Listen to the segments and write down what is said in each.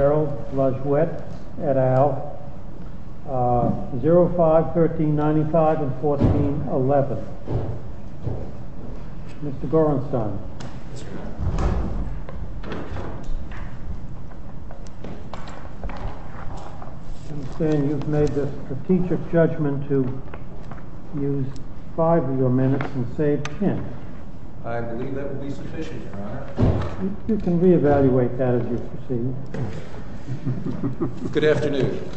et al., 05, 1395, and 1411. Mr. Gorenstein, I understand you've made the strategic judgment to use five of your minutes and save ten. I believe that would be sufficient, Your Honor. You can reevaluate that as you proceed. Good afternoon.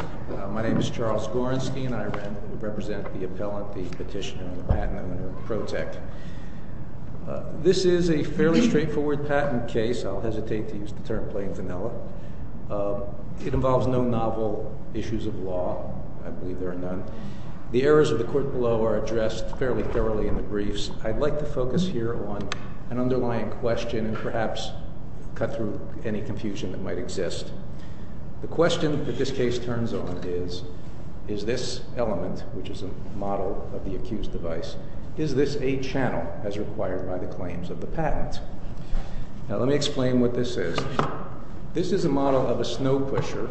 My name is Charles Gorenstein. I represent the appellant, the petitioner, and the patent under Pro-Tech. This is a fairly straightforward patent case. I'll hesitate to use the term plain vanilla. It involves no novel issues of law. I believe there are none. The errors of the court below are addressed fairly thoroughly in the briefs. I'd like to focus here on an underlying question, and perhaps cut through any confusion that might exist. The question that this case turns on is, is this element, which is a model of the accused device, is this a channel as required by the claims of the patent? Now let me explain what this is. This is a model of a snow pusher.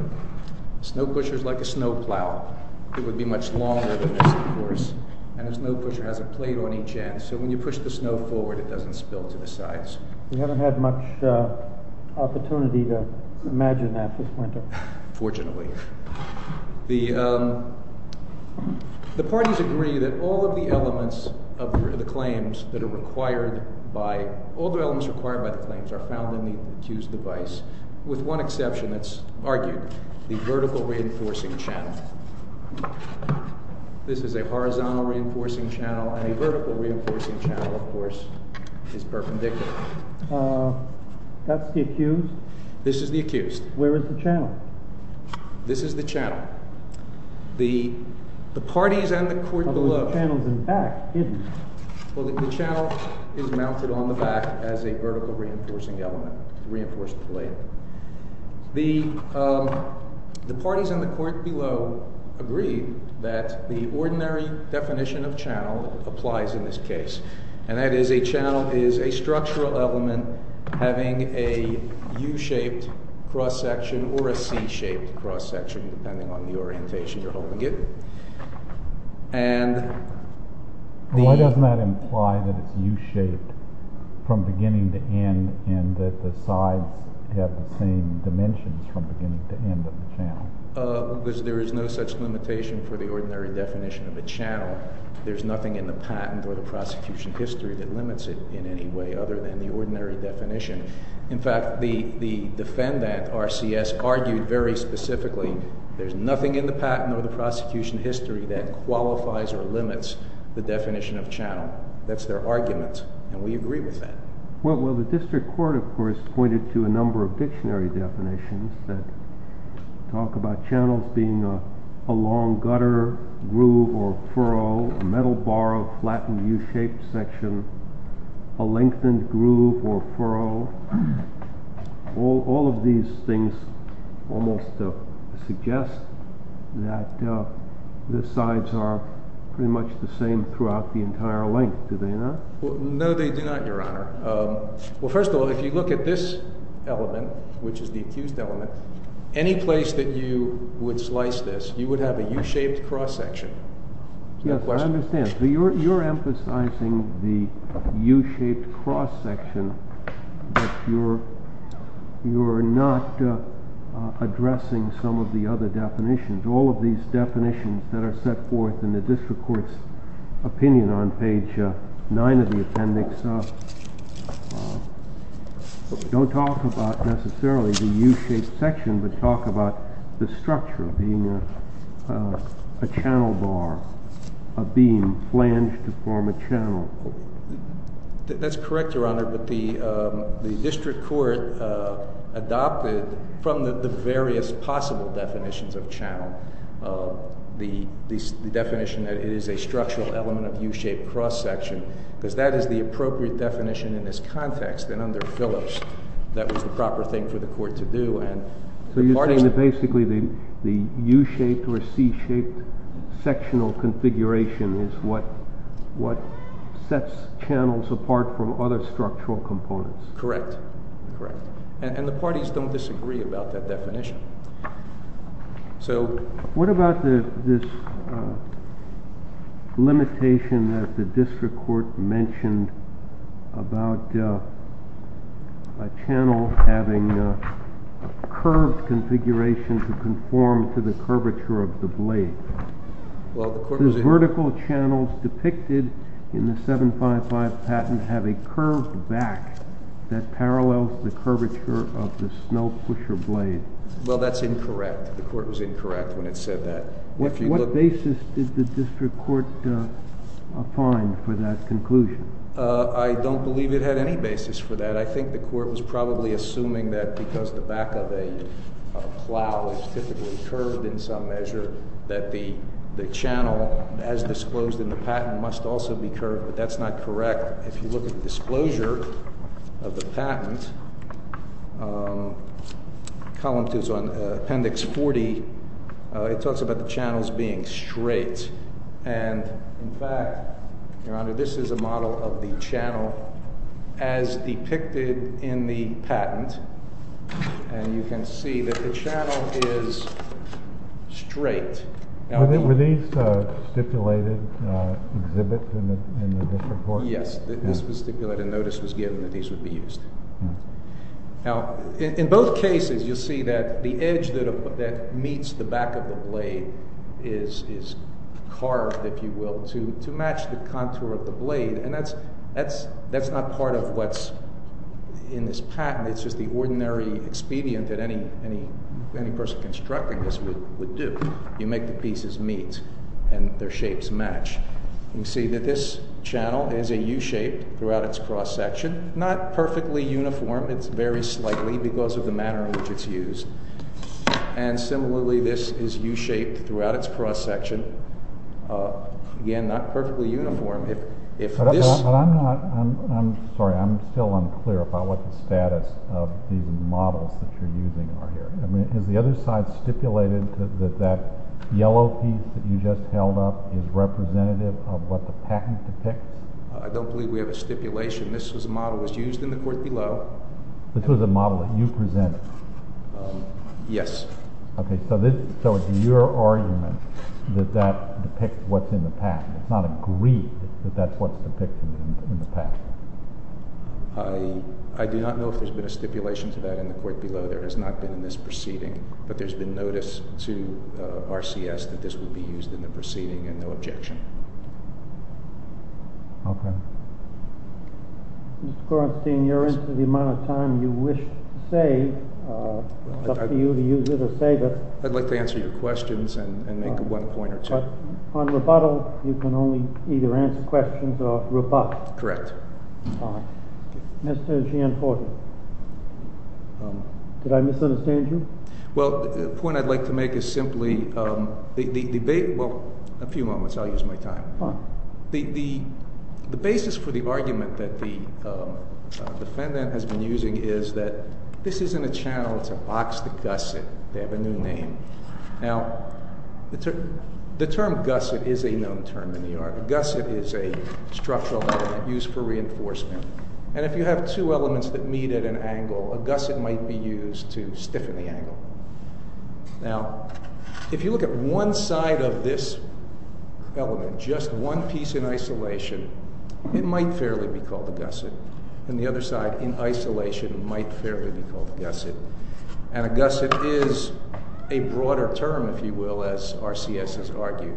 A snow pusher is like a snow plow. It would be much longer than this, of course, and a snow pusher has a plate on each end, so when you push the snow forward, it doesn't spill to the sides. We haven't had much opportunity to imagine that this winter. Fortunately. The parties agree that all of the elements of the claims that are required by—all the elements required by the claims are found in the accused device, with one exception that's argued, the vertical reinforcing channel. This is a horizontal reinforcing channel, and a vertical reinforcing channel, of course, is perpendicular. That's the accused? This is the accused. Where is the channel? This is the channel. The parties and the court below— But the channel's in back, isn't it? Well, the channel is mounted on the back as a vertical reinforcing element, reinforced in this case, and that is a channel is a structural element having a U-shaped cross-section or a C-shaped cross-section, depending on the orientation you're holding it. Why doesn't that imply that it's U-shaped from beginning to end, and that the sides have the same dimensions from beginning to end of the channel? Because there is no such limitation for the ordinary definition of a channel. There's nothing in the patent or the prosecution history that limits it in any way other than the ordinary definition. In fact, the defendant, RCS, argued very specifically there's nothing in the patent or the prosecution history that qualifies or limits the definition of channel. That's their argument, and we agree with that. Well, the district court, of course, pointed to a number of dictionary definitions that talk about channels being a long gutter, groove, or furrow, a metal bar, a flattened U-shaped section, a lengthened groove or furrow. All of these things almost suggest that the sides are pretty much the same throughout the entire length, do they not? No, they do not, Your Honor. Well, first of all, if you look at this element, which is the accused element, any place that you would slice this, you would have a U-shaped cross section. Is that a question? Yes, I understand. So you're emphasizing the U-shaped cross section, but you're not addressing some of the other definitions. All of these definitions that are set forth in the district court's opinion on page 9 of the appendix don't talk about necessarily the U-shaped section, but talk about the structure of being a channel bar, a beam flanged to form a channel. That's correct, Your Honor, but the district court adopted from the various possible definitions of channel, the definition that it is a structural element of U-shaped cross section, because that is the appropriate definition in this context, and under Phillips, that was the proper thing for the court to do. So you're saying that basically the U-shaped or C-shaped sectional configuration is what sets channels apart from other structural components? Correct. And the parties don't disagree about that definition. So what about this limitation that the district court mentioned about a channel having a curved configuration to conform to the curvature of the blade? The vertical channels depicted in the 755 patent have a curved back that parallels the curvature of the snow pusher blade. Well, that's incorrect. The court was incorrect when it said that. What basis did the district court find for that conclusion? I don't believe it had any basis for that. I think the court was probably assuming that because the back of a plow is typically curved in some measure, that the channel, as disclosed in the patent, must also be curved, but that's not correct. If you look at the disclosure of the patent, column two is on appendix 40. It talks about the channels being straight, and in fact, Your Honor, this is a model of the channel as depicted in the patent, and you can see that the channel is straight. Were these stipulated exhibits in the district court? Yes, this was stipulated. Notice was given that these would be used. Now, in both cases, you'll see that the edge that meets the back of the blade is carved, if you will, to match the contour of the blade, and that's not part of what's in this patent. It's just the ordinary expedient that any person constructing this would do. You make the pieces meet, and their shapes match. You see that this channel is a U-shape throughout its cross-section. Not perfectly uniform. It's very slightly because of the manner in which it's used. And similarly, this is U-shaped throughout its cross-section. Again, not perfectly uniform. But I'm not, I'm sorry, I'm still unclear about what the status of the models that you're using are here. Is the other side stipulated that that yellow piece that you just held up is representative of what the patent depicts? I don't believe we have a stipulation. This was a model that was used in the court below. This was a model that you presented? Yes. Okay, so it's your argument that that depicts what's in the patent. It's not agreed that that's what's depicted in the patent. I do not know if there's been a stipulation to that in the court below. There has not been in this proceeding. But there's been notice to RCS that this would be used in the proceeding, and no objection. Okay. Mr. Kornstein, you're into the amount of time you wish to save. It's up to you to use it or save it. I'd like to answer your questions and make one point or two. But on rebuttal, you can only either answer questions or rebut. Correct. Mr. Gianforte, did I misunderstand you? Well, the point I'd like to make is simply, well, a few moments, I'll use my time. The basis for the argument that the defendant has been using is that this isn't a channel, it's a box to gusset. They have a new name. Now, the term gusset is a known term in New York. A gusset is a structural element used for reinforcement. And if you have two elements that meet at an angle, a gusset might be used to stiffen the angle. Now, if you look at one side of this element, just one piece in isolation, it might fairly be called a gusset. And the other side, in isolation, might fairly be called a gusset. And a gusset is a broader term, if you will, as RCS has argued.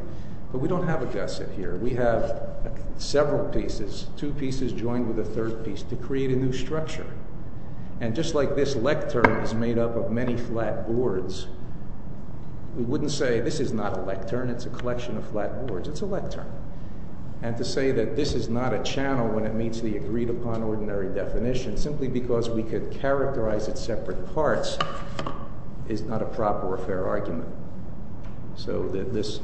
But we don't have a gusset here. We have several pieces, two pieces joined with a third piece, to create a new structure. And just like this lectern is made up of many flat boards, we wouldn't say this is not a lectern, it's a collection of flat boards. It's a lectern. And to say that this is not a channel when it meets the agreed-upon ordinary definition, simply because we could characterize its separate parts, is not a proper or fair argument. So this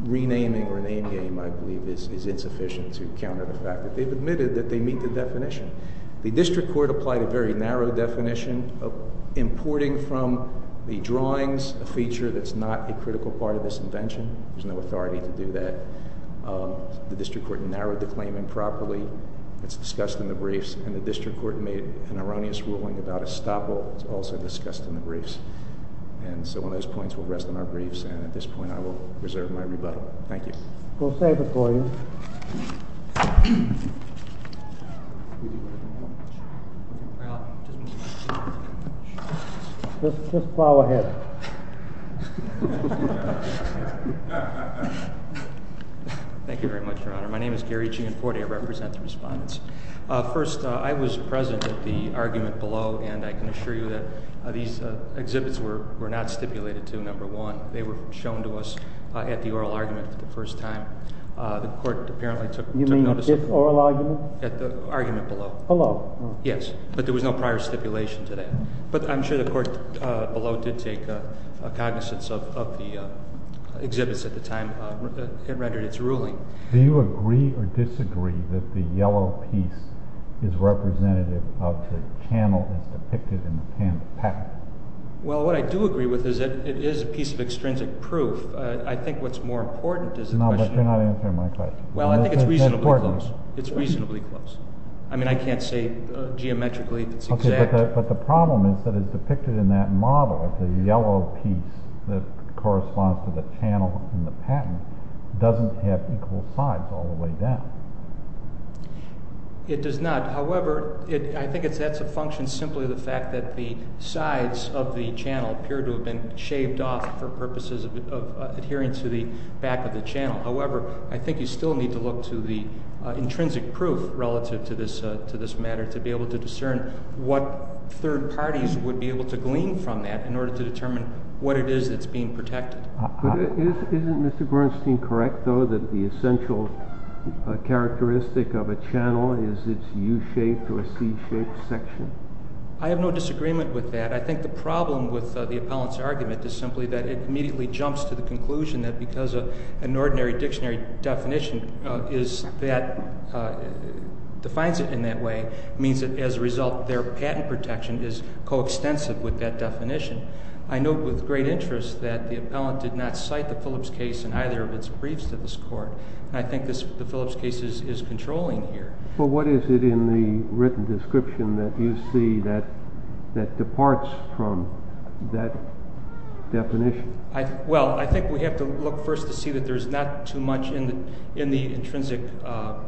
renaming or name-game, I believe, is insufficient to counter the fact that they've admitted that they meet the definition. The district court applied a very narrow definition of importing from the drawings a feature that's not a critical part of this invention. There's no authority to do that. The district court narrowed the claim improperly. It's discussed in the briefs. And the district court made an erroneous ruling about estoppel. It's also discussed in the briefs. And so on those points, we'll rest on our briefs. And at this point, I will reserve my rebuttal. Thank you. We'll save it for you. Just plow ahead. Thank you very much, Your Honor. My name is Gary Gianforte. I represent the respondents. First, I was present at the argument below. And I can assure you that these exhibits were not stipulated to, number one. They were shown to us at the oral argument for the first time. The court apparently took notice of it. You mean at the oral argument? At the argument below. Below. Yes. But there was no prior stipulation to that. But I'm sure the court below did take a cognizance of the exhibits at the time it rendered its ruling. Do you agree or disagree that the yellow piece is representative of the channel that's depicted in the patent packet? Well, what I do agree with is that it is a piece of extrinsic proof. I think what's more important is the question of— No, but you're not answering my question. Well, I think it's reasonably close. It's important. It's reasonably close. I mean, I can't say geometrically it's exact. Okay, but the problem is that it's depicted in that model of the yellow piece that corresponds to the channel in the patent. It doesn't have equal sides all the way down. It does not. However, I think that's a function simply of the fact that the sides of the channel appear to have been shaved off for purposes of adhering to the back of the channel. However, I think you still need to look to the intrinsic proof relative to this matter to be able to discern what third parties would be able to glean from that in order to determine what it is that's being protected. Isn't Mr. Gorenstein correct, though, that the essential characteristic of a channel is its U-shaped or C-shaped section? I have no disagreement with that. I think the problem with the appellant's argument is simply that it immediately jumps to the conclusion that because an ordinary dictionary definition defines it in that way means that as a result their patent protection is coextensive with that definition. I note with great interest that the appellant did not cite the Phillips case in either of its briefs to this court, and I think the Phillips case is controlling here. But what is it in the written description that you see that departs from that definition? Well, I think we have to look first to see that there's not too much in the intrinsic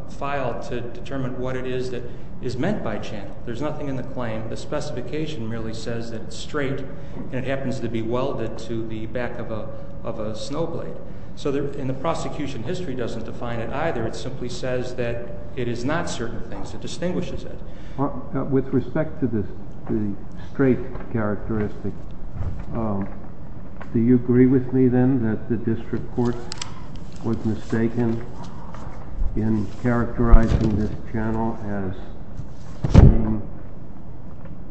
file to determine what it is that is meant by channel. There's nothing in the claim. The specification merely says that it's straight, and it happens to be welded to the back of a snow blade. So in the prosecution, history doesn't define it either. It simply says that it is not certain things. It distinguishes it. With respect to the straight characteristic, do you agree with me then that the district court was mistaken in characterizing this channel as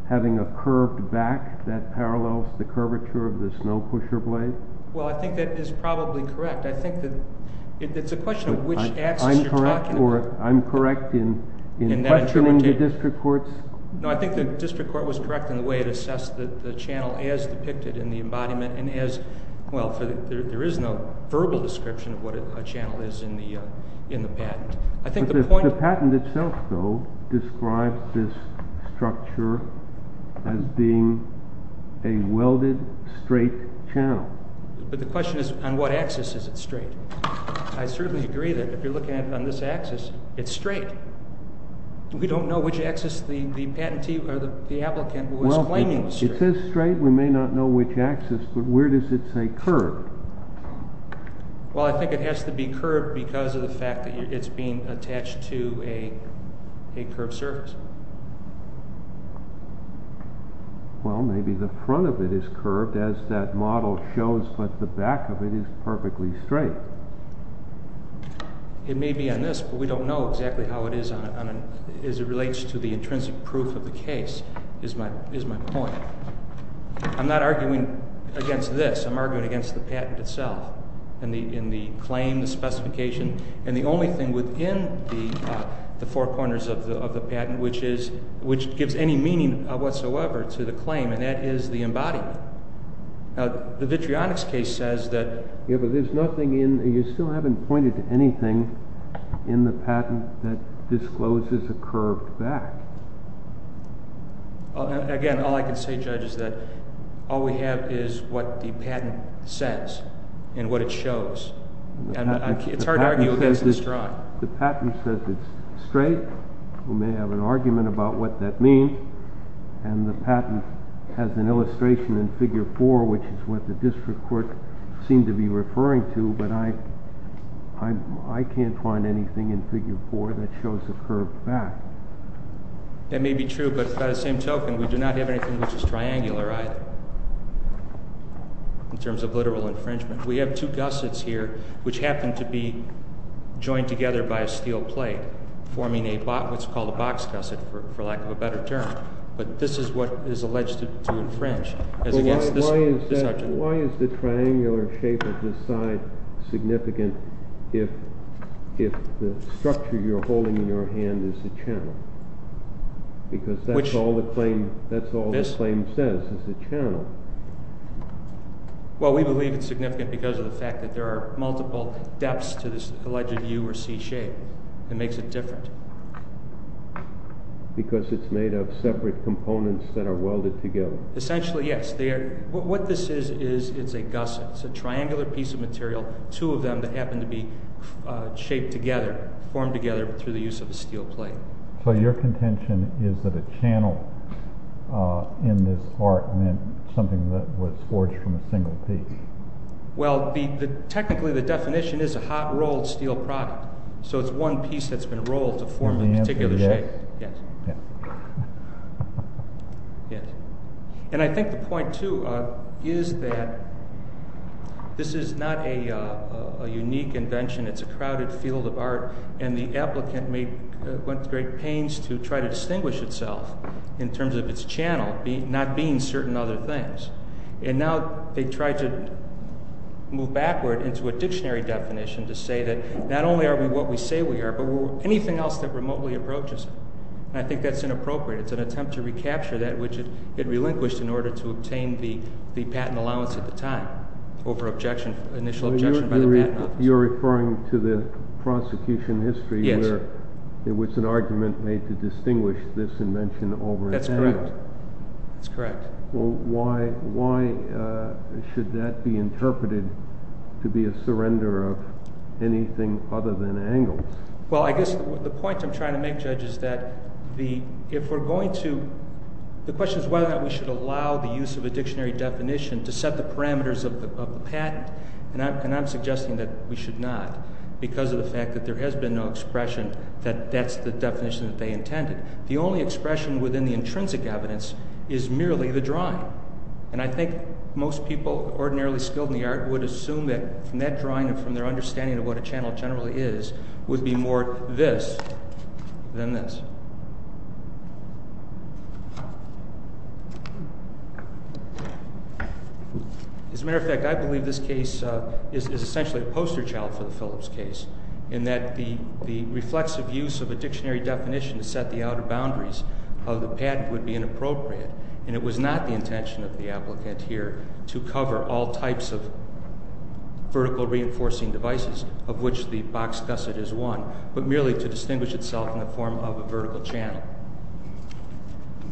having a curved back that parallels the curvature of the snow pusher blade? Well, I think that is probably correct. I think that it's a question of which axis you're talking about. I'm correct in questioning the district courts? No, I think the district court was correct in the way it assessed the channel as depicted in the embodiment and as—well, there is no verbal description of what a channel is in the patent. I think the point— The patent itself, though, describes this structure as being a welded straight channel. But the question is on what axis is it straight? I certainly agree that if you're looking at it on this axis, it's straight. We don't know which axis the patentee or the applicant was claiming was straight. Well, it says straight. We may not know which axis, but where does it say curved? Well, I think it has to be curved because of the fact that it's being attached to a curved surface. Well, maybe the front of it is curved, as that model shows, but the back of it is perfectly straight. It may be on this, but we don't know exactly how it is on—as it relates to the intrinsic proof of the case, is my point. I'm not arguing against this. I'm arguing against the patent itself and the claim, the specification. And the only thing within the four corners of the patent which gives any meaning whatsoever to the claim, and that is the embodiment. Now, the Vitrionics case says that— Yeah, but there's nothing in—you still haven't pointed to anything in the patent that discloses a curved back. Again, all I can say, Judge, is that all we have is what the patent says and what it shows. It's hard to argue against this drawing. The patent says it's straight. We may have an argument about what that means. And the patent has an illustration in Figure 4, which is what the district court seemed to be referring to, but I can't find anything in Figure 4 that shows a curved back. That may be true, but by the same token, we do not have anything which is triangular either, in terms of literal infringement. We have two gussets here, which happen to be joined together by a steel plate, forming what's called a box gusset, for lack of a better term. But this is what is alleged to infringe. Why is the triangular shape of this side significant if the structure you're holding in your hand is a channel? Because that's all the claim says, is a channel. Well, we believe it's significant because of the fact that there are multiple depths to this alleged U or C shape. It makes it different. Because it's made of separate components that are welded together. Essentially, yes. What this is, is a gusset. It's a triangular piece of material, two of them that happen to be shaped together, formed together through the use of a steel plate. So your contention is that a channel in this art meant something that was forged from a single piece. Well, technically the definition is a hot rolled steel product. So it's one piece that's been rolled to form a particular shape. And I think the point too, is that this is not a unique invention. It's a crowded field of art, and the applicant went to great pains to try to distinguish itself in terms of its channel not being certain other things. And now they try to move backward into a dictionary definition to say that not only are we what we say we are, but we're anything else that remotely approaches it. And I think that's inappropriate. It's an attempt to recapture that which it relinquished in order to obtain the patent allowance at the time over initial objection by the patent office. You're referring to the prosecution history in which an argument made to distinguish this invention over its channel. That's correct. Well, why should that be interpreted to be a surrender of anything other than angles? Well, I guess the point I'm trying to make, Judge, is that if we're going to—the question is whether or not we should allow the use of a dictionary definition to set the parameters of the patent. And I'm suggesting that we should not because of the fact that there has been no expression that that's the definition that they intended. The only expression within the intrinsic evidence is merely the drawing. And I think most people ordinarily skilled in the art would assume that from that drawing and from their understanding of what a channel generally is would be more this than this. As a matter of fact, I believe this case is essentially a poster child for the Phillips case in that the reflexive use of a dictionary definition to set the outer boundaries of the patent would be inappropriate. And it was not the intention of the applicant here to cover all types of vertical reinforcing devices of which the box gusset is one, but merely to distinguish itself in the form of a vertical channel.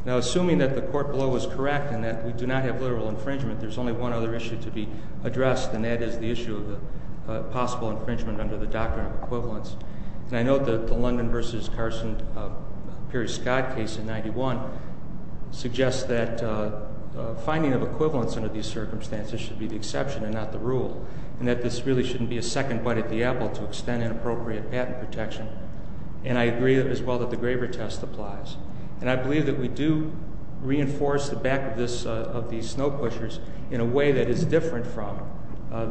Now, assuming that the court below was correct in that we do not have literal infringement, there's only one other issue to be addressed, and that is the issue of the possible infringement under the doctrine of equivalence. And I note that the London v. Carson-Perry-Scott case in 91 suggests that finding of equivalence under these circumstances should be the exception and not the rule, and that this really shouldn't be a second bite at the apple to extend inappropriate patent protection. And I agree as well that the Graeber test applies. And I believe that we do reinforce the back of these snow pushers in a way that is different from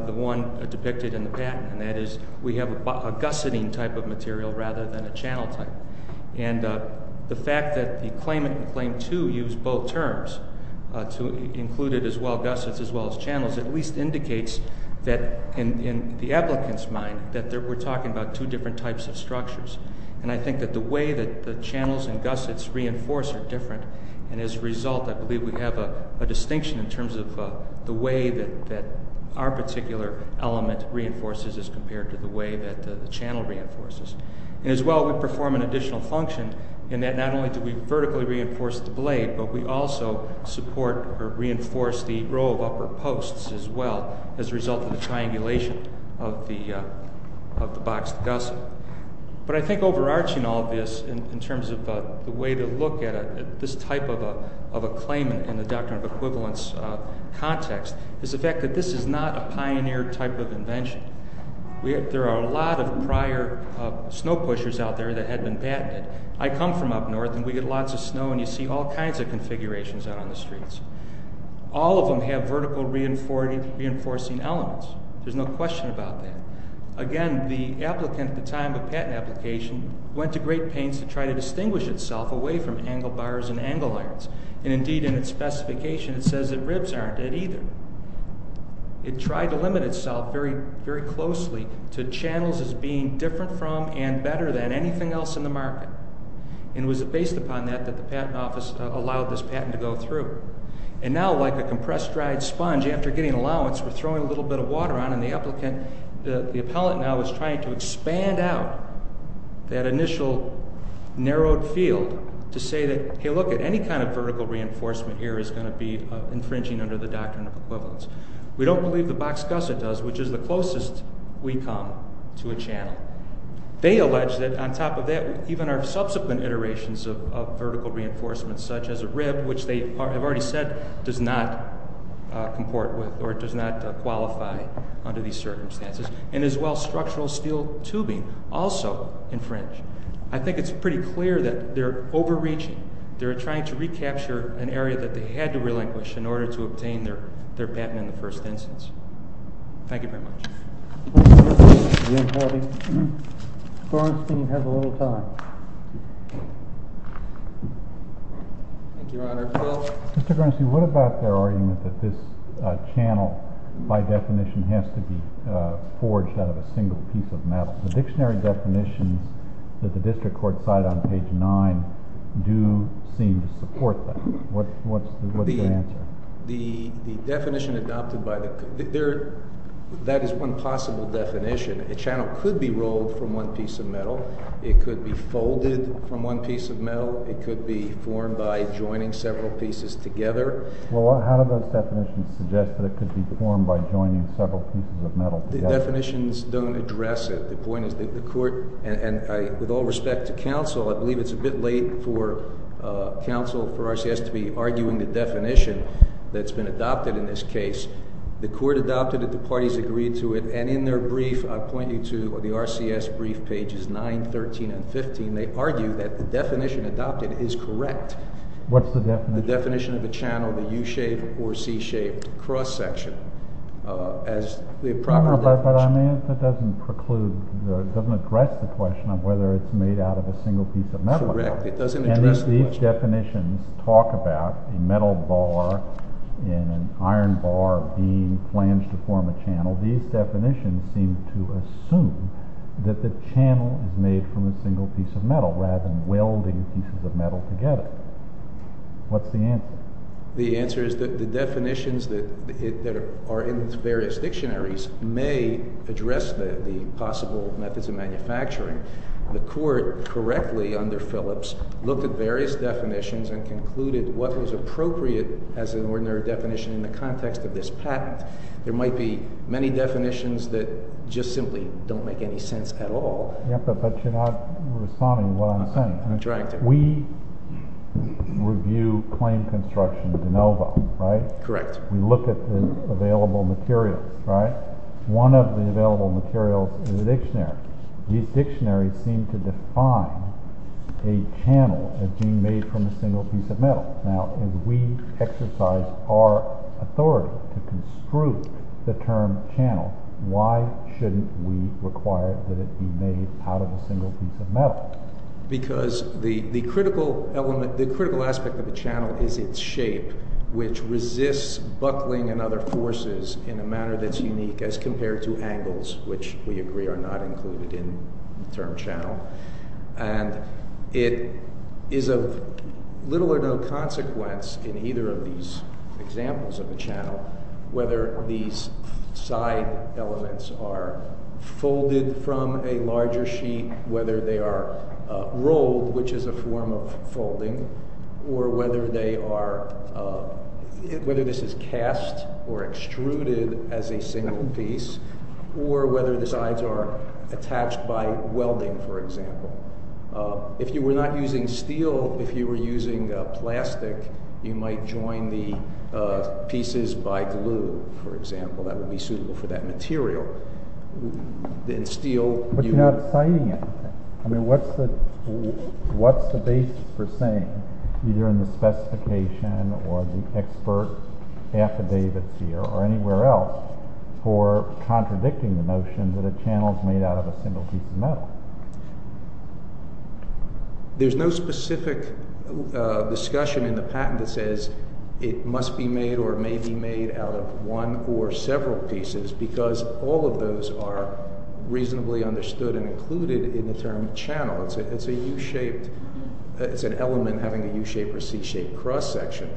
the one depicted in the patent, and that is we have a gusseting type of material rather than a channel type. And the fact that the claimant and claim to use both terms to include it as well, gussets as well as channels, at least indicates that in the applicant's mind that we're talking about two different types of structures. And I think that the way that the channels and gussets reinforce are different. And as a result, I believe we have a distinction in terms of the way that our particular element reinforces as compared to the way that the channel reinforces. And as well, we perform an additional function in that not only do we vertically reinforce the blade, but we also support or reinforce the row of upper posts as well as a result of the triangulation of the boxed gusset. But I think overarching all of this in terms of the way to look at this type of a claimant in the doctrine of equivalence context is the fact that this is not a pioneered type of invention. There are a lot of prior snow pushers out there that had been patented. I come from up north, and we get lots of snow, and you see all kinds of configurations out on the streets. All of them have vertical reinforcing elements. There's no question about that. Again, the applicant at the time of patent application went to great pains to try to distinguish itself away from angle bars and angle irons. And indeed, in its specification, it says that ribs aren't dead either. It tried to limit itself very closely to channels as being different from and better than anything else in the market. And it was based upon that that the patent office allowed this patent to go through. And now, like a compressed dried sponge, after getting allowance, we're throwing a little bit of water on it, and the appellant now is trying to expand out that initial narrowed field to say that, hey, look, any kind of vertical reinforcement here is going to be infringing under the doctrine of equivalence. We don't believe the boxed gusset does, which is the closest we come to a channel. They allege that on top of that, even our subsequent iterations of vertical reinforcements such as a rib, which they have already said does not comport with or does not qualify under these circumstances, and as well structural steel tubing also infringe. I think it's pretty clear that they're overreaching. They're trying to recapture an area that they had to relinquish in order to obtain their patent in the first instance. Thank you very much. Mr. Bernstein, you have a little time. Thank you, Your Honor. Mr. Bernstein, what about their argument that this channel, by definition, has to be forged out of a single piece of metal? The dictionary definitions that the district court cited on page 9 do seem to support that. What's your answer? The definition adopted by the – that is one possible definition. A channel could be rolled from one piece of metal. It could be folded from one piece of metal. It could be formed by joining several pieces together. Well, how do those definitions suggest that it could be formed by joining several pieces of metal together? The definitions don't address it. The point is that the court – and with all respect to counsel, I believe it's a bit late for counsel for RCS to be arguing the definition that's been adopted in this case. The court adopted it. The parties agreed to it. And in their brief, I'll point you to the RCS brief, pages 9, 13, and 15, they argue that the definition adopted is correct. What's the definition? The definition of a channel, the U-shaped or C-shaped cross-section. As the proper definition – But I mean, it doesn't preclude – it doesn't address the question of whether it's made out of a single piece of metal. Correct. It doesn't address the question. And these definitions talk about a metal bar and an iron bar being flanged to form a channel. These definitions seem to assume that the channel is made from a single piece of metal rather than welding pieces of metal together. What's the answer? The answer is that the definitions that are in various dictionaries may address the possible methods of manufacturing. The court correctly, under Phillips, looked at various definitions and concluded what was appropriate as an ordinary definition in the context of this patent. There might be many definitions that just simply don't make any sense at all. Yeah, but you're not responding to what I'm saying. I'm trying to. We review claim construction de novo, right? Correct. We look at the available materials, right? One of the available materials is a dictionary. These dictionaries seem to define a channel as being made from a single piece of metal. Now, if we exercise our authority to construe the term channel, why shouldn't we require that it be made out of a single piece of metal? Because the critical aspect of the channel is its shape, which resists buckling and other forces in a manner that's unique as compared to angles, which we agree are not included in the term channel. It is of little or no consequence in either of these examples of the channel whether these side elements are folded from a larger sheet, whether they are rolled, which is a form of folding, or whether this is cast or extruded as a single piece, or whether the sides are attached by welding, for example. If you were not using steel, if you were using plastic, you might join the pieces by glue, for example. That would be suitable for that material. But you're not citing anything. I mean, what's the basis for saying, either in the specification or the expert affidavits here or anywhere else, for contradicting the notion that a channel is made out of a single piece of metal? There's no specific discussion in the patent that says it must be made or may be made out of one or several pieces because all of those are reasonably understood and included in the term channel. It's an element having a U-shape or C-shape cross-section.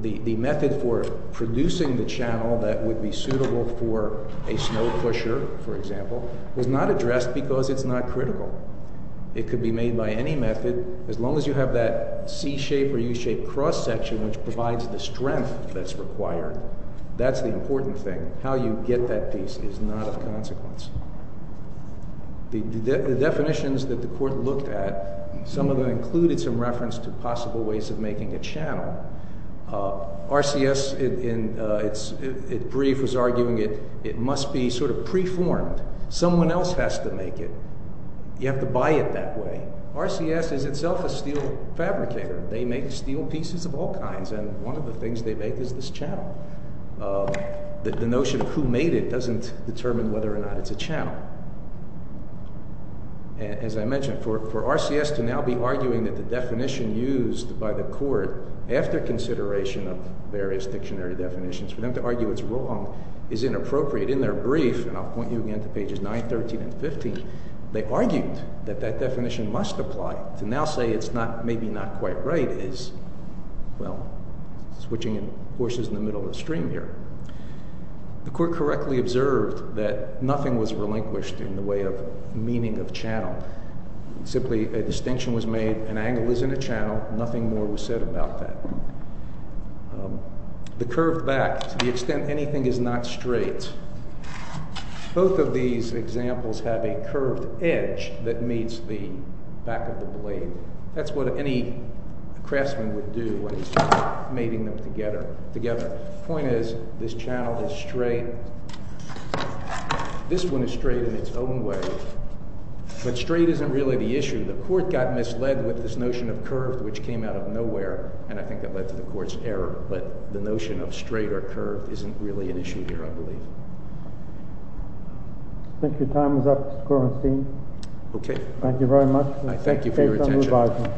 The method for producing the channel that would be suitable for a snow pusher, for example, was not addressed because it's not critical. It could be made by any method as long as you have that C-shape or U-shape cross-section which provides the strength that's required. That's the important thing. How you get that piece is not of consequence. The definitions that the court looked at, some of them included some reference to possible ways of making a channel. RCS in its brief was arguing it must be sort of preformed. Someone else has to make it. You have to buy it that way. RCS is itself a steel fabricator. They make steel pieces of all kinds, and one of the things they make is this channel. The notion of who made it doesn't determine whether or not it's a channel. As I mentioned, for RCS to now be arguing that the definition used by the court after consideration of various dictionary definitions, for them to argue it's wrong is inappropriate in their brief, and I'll point you again to pages 9, 13, and 15, they argued that that definition must apply. To now say it's maybe not quite right is, well, switching horses in the middle of the stream here. The court correctly observed that nothing was relinquished in the way of meaning of channel. Simply a distinction was made, an angle is in a channel, nothing more was said about that. The curved back, to the extent anything is not straight, both of these examples have a curved edge that meets the back of the blade. That's what any craftsman would do, mating them together. The point is, this channel is straight. This one is straight in its own way. But straight isn't really the issue. The court got misled with this notion of curve, which came out of nowhere, and I think that led to the court's error. But the notion of straight or curved isn't really an issue here, I believe. I think your time is up, Mr. Kornstein. Okay. Thank you very much. Thank you for your attention.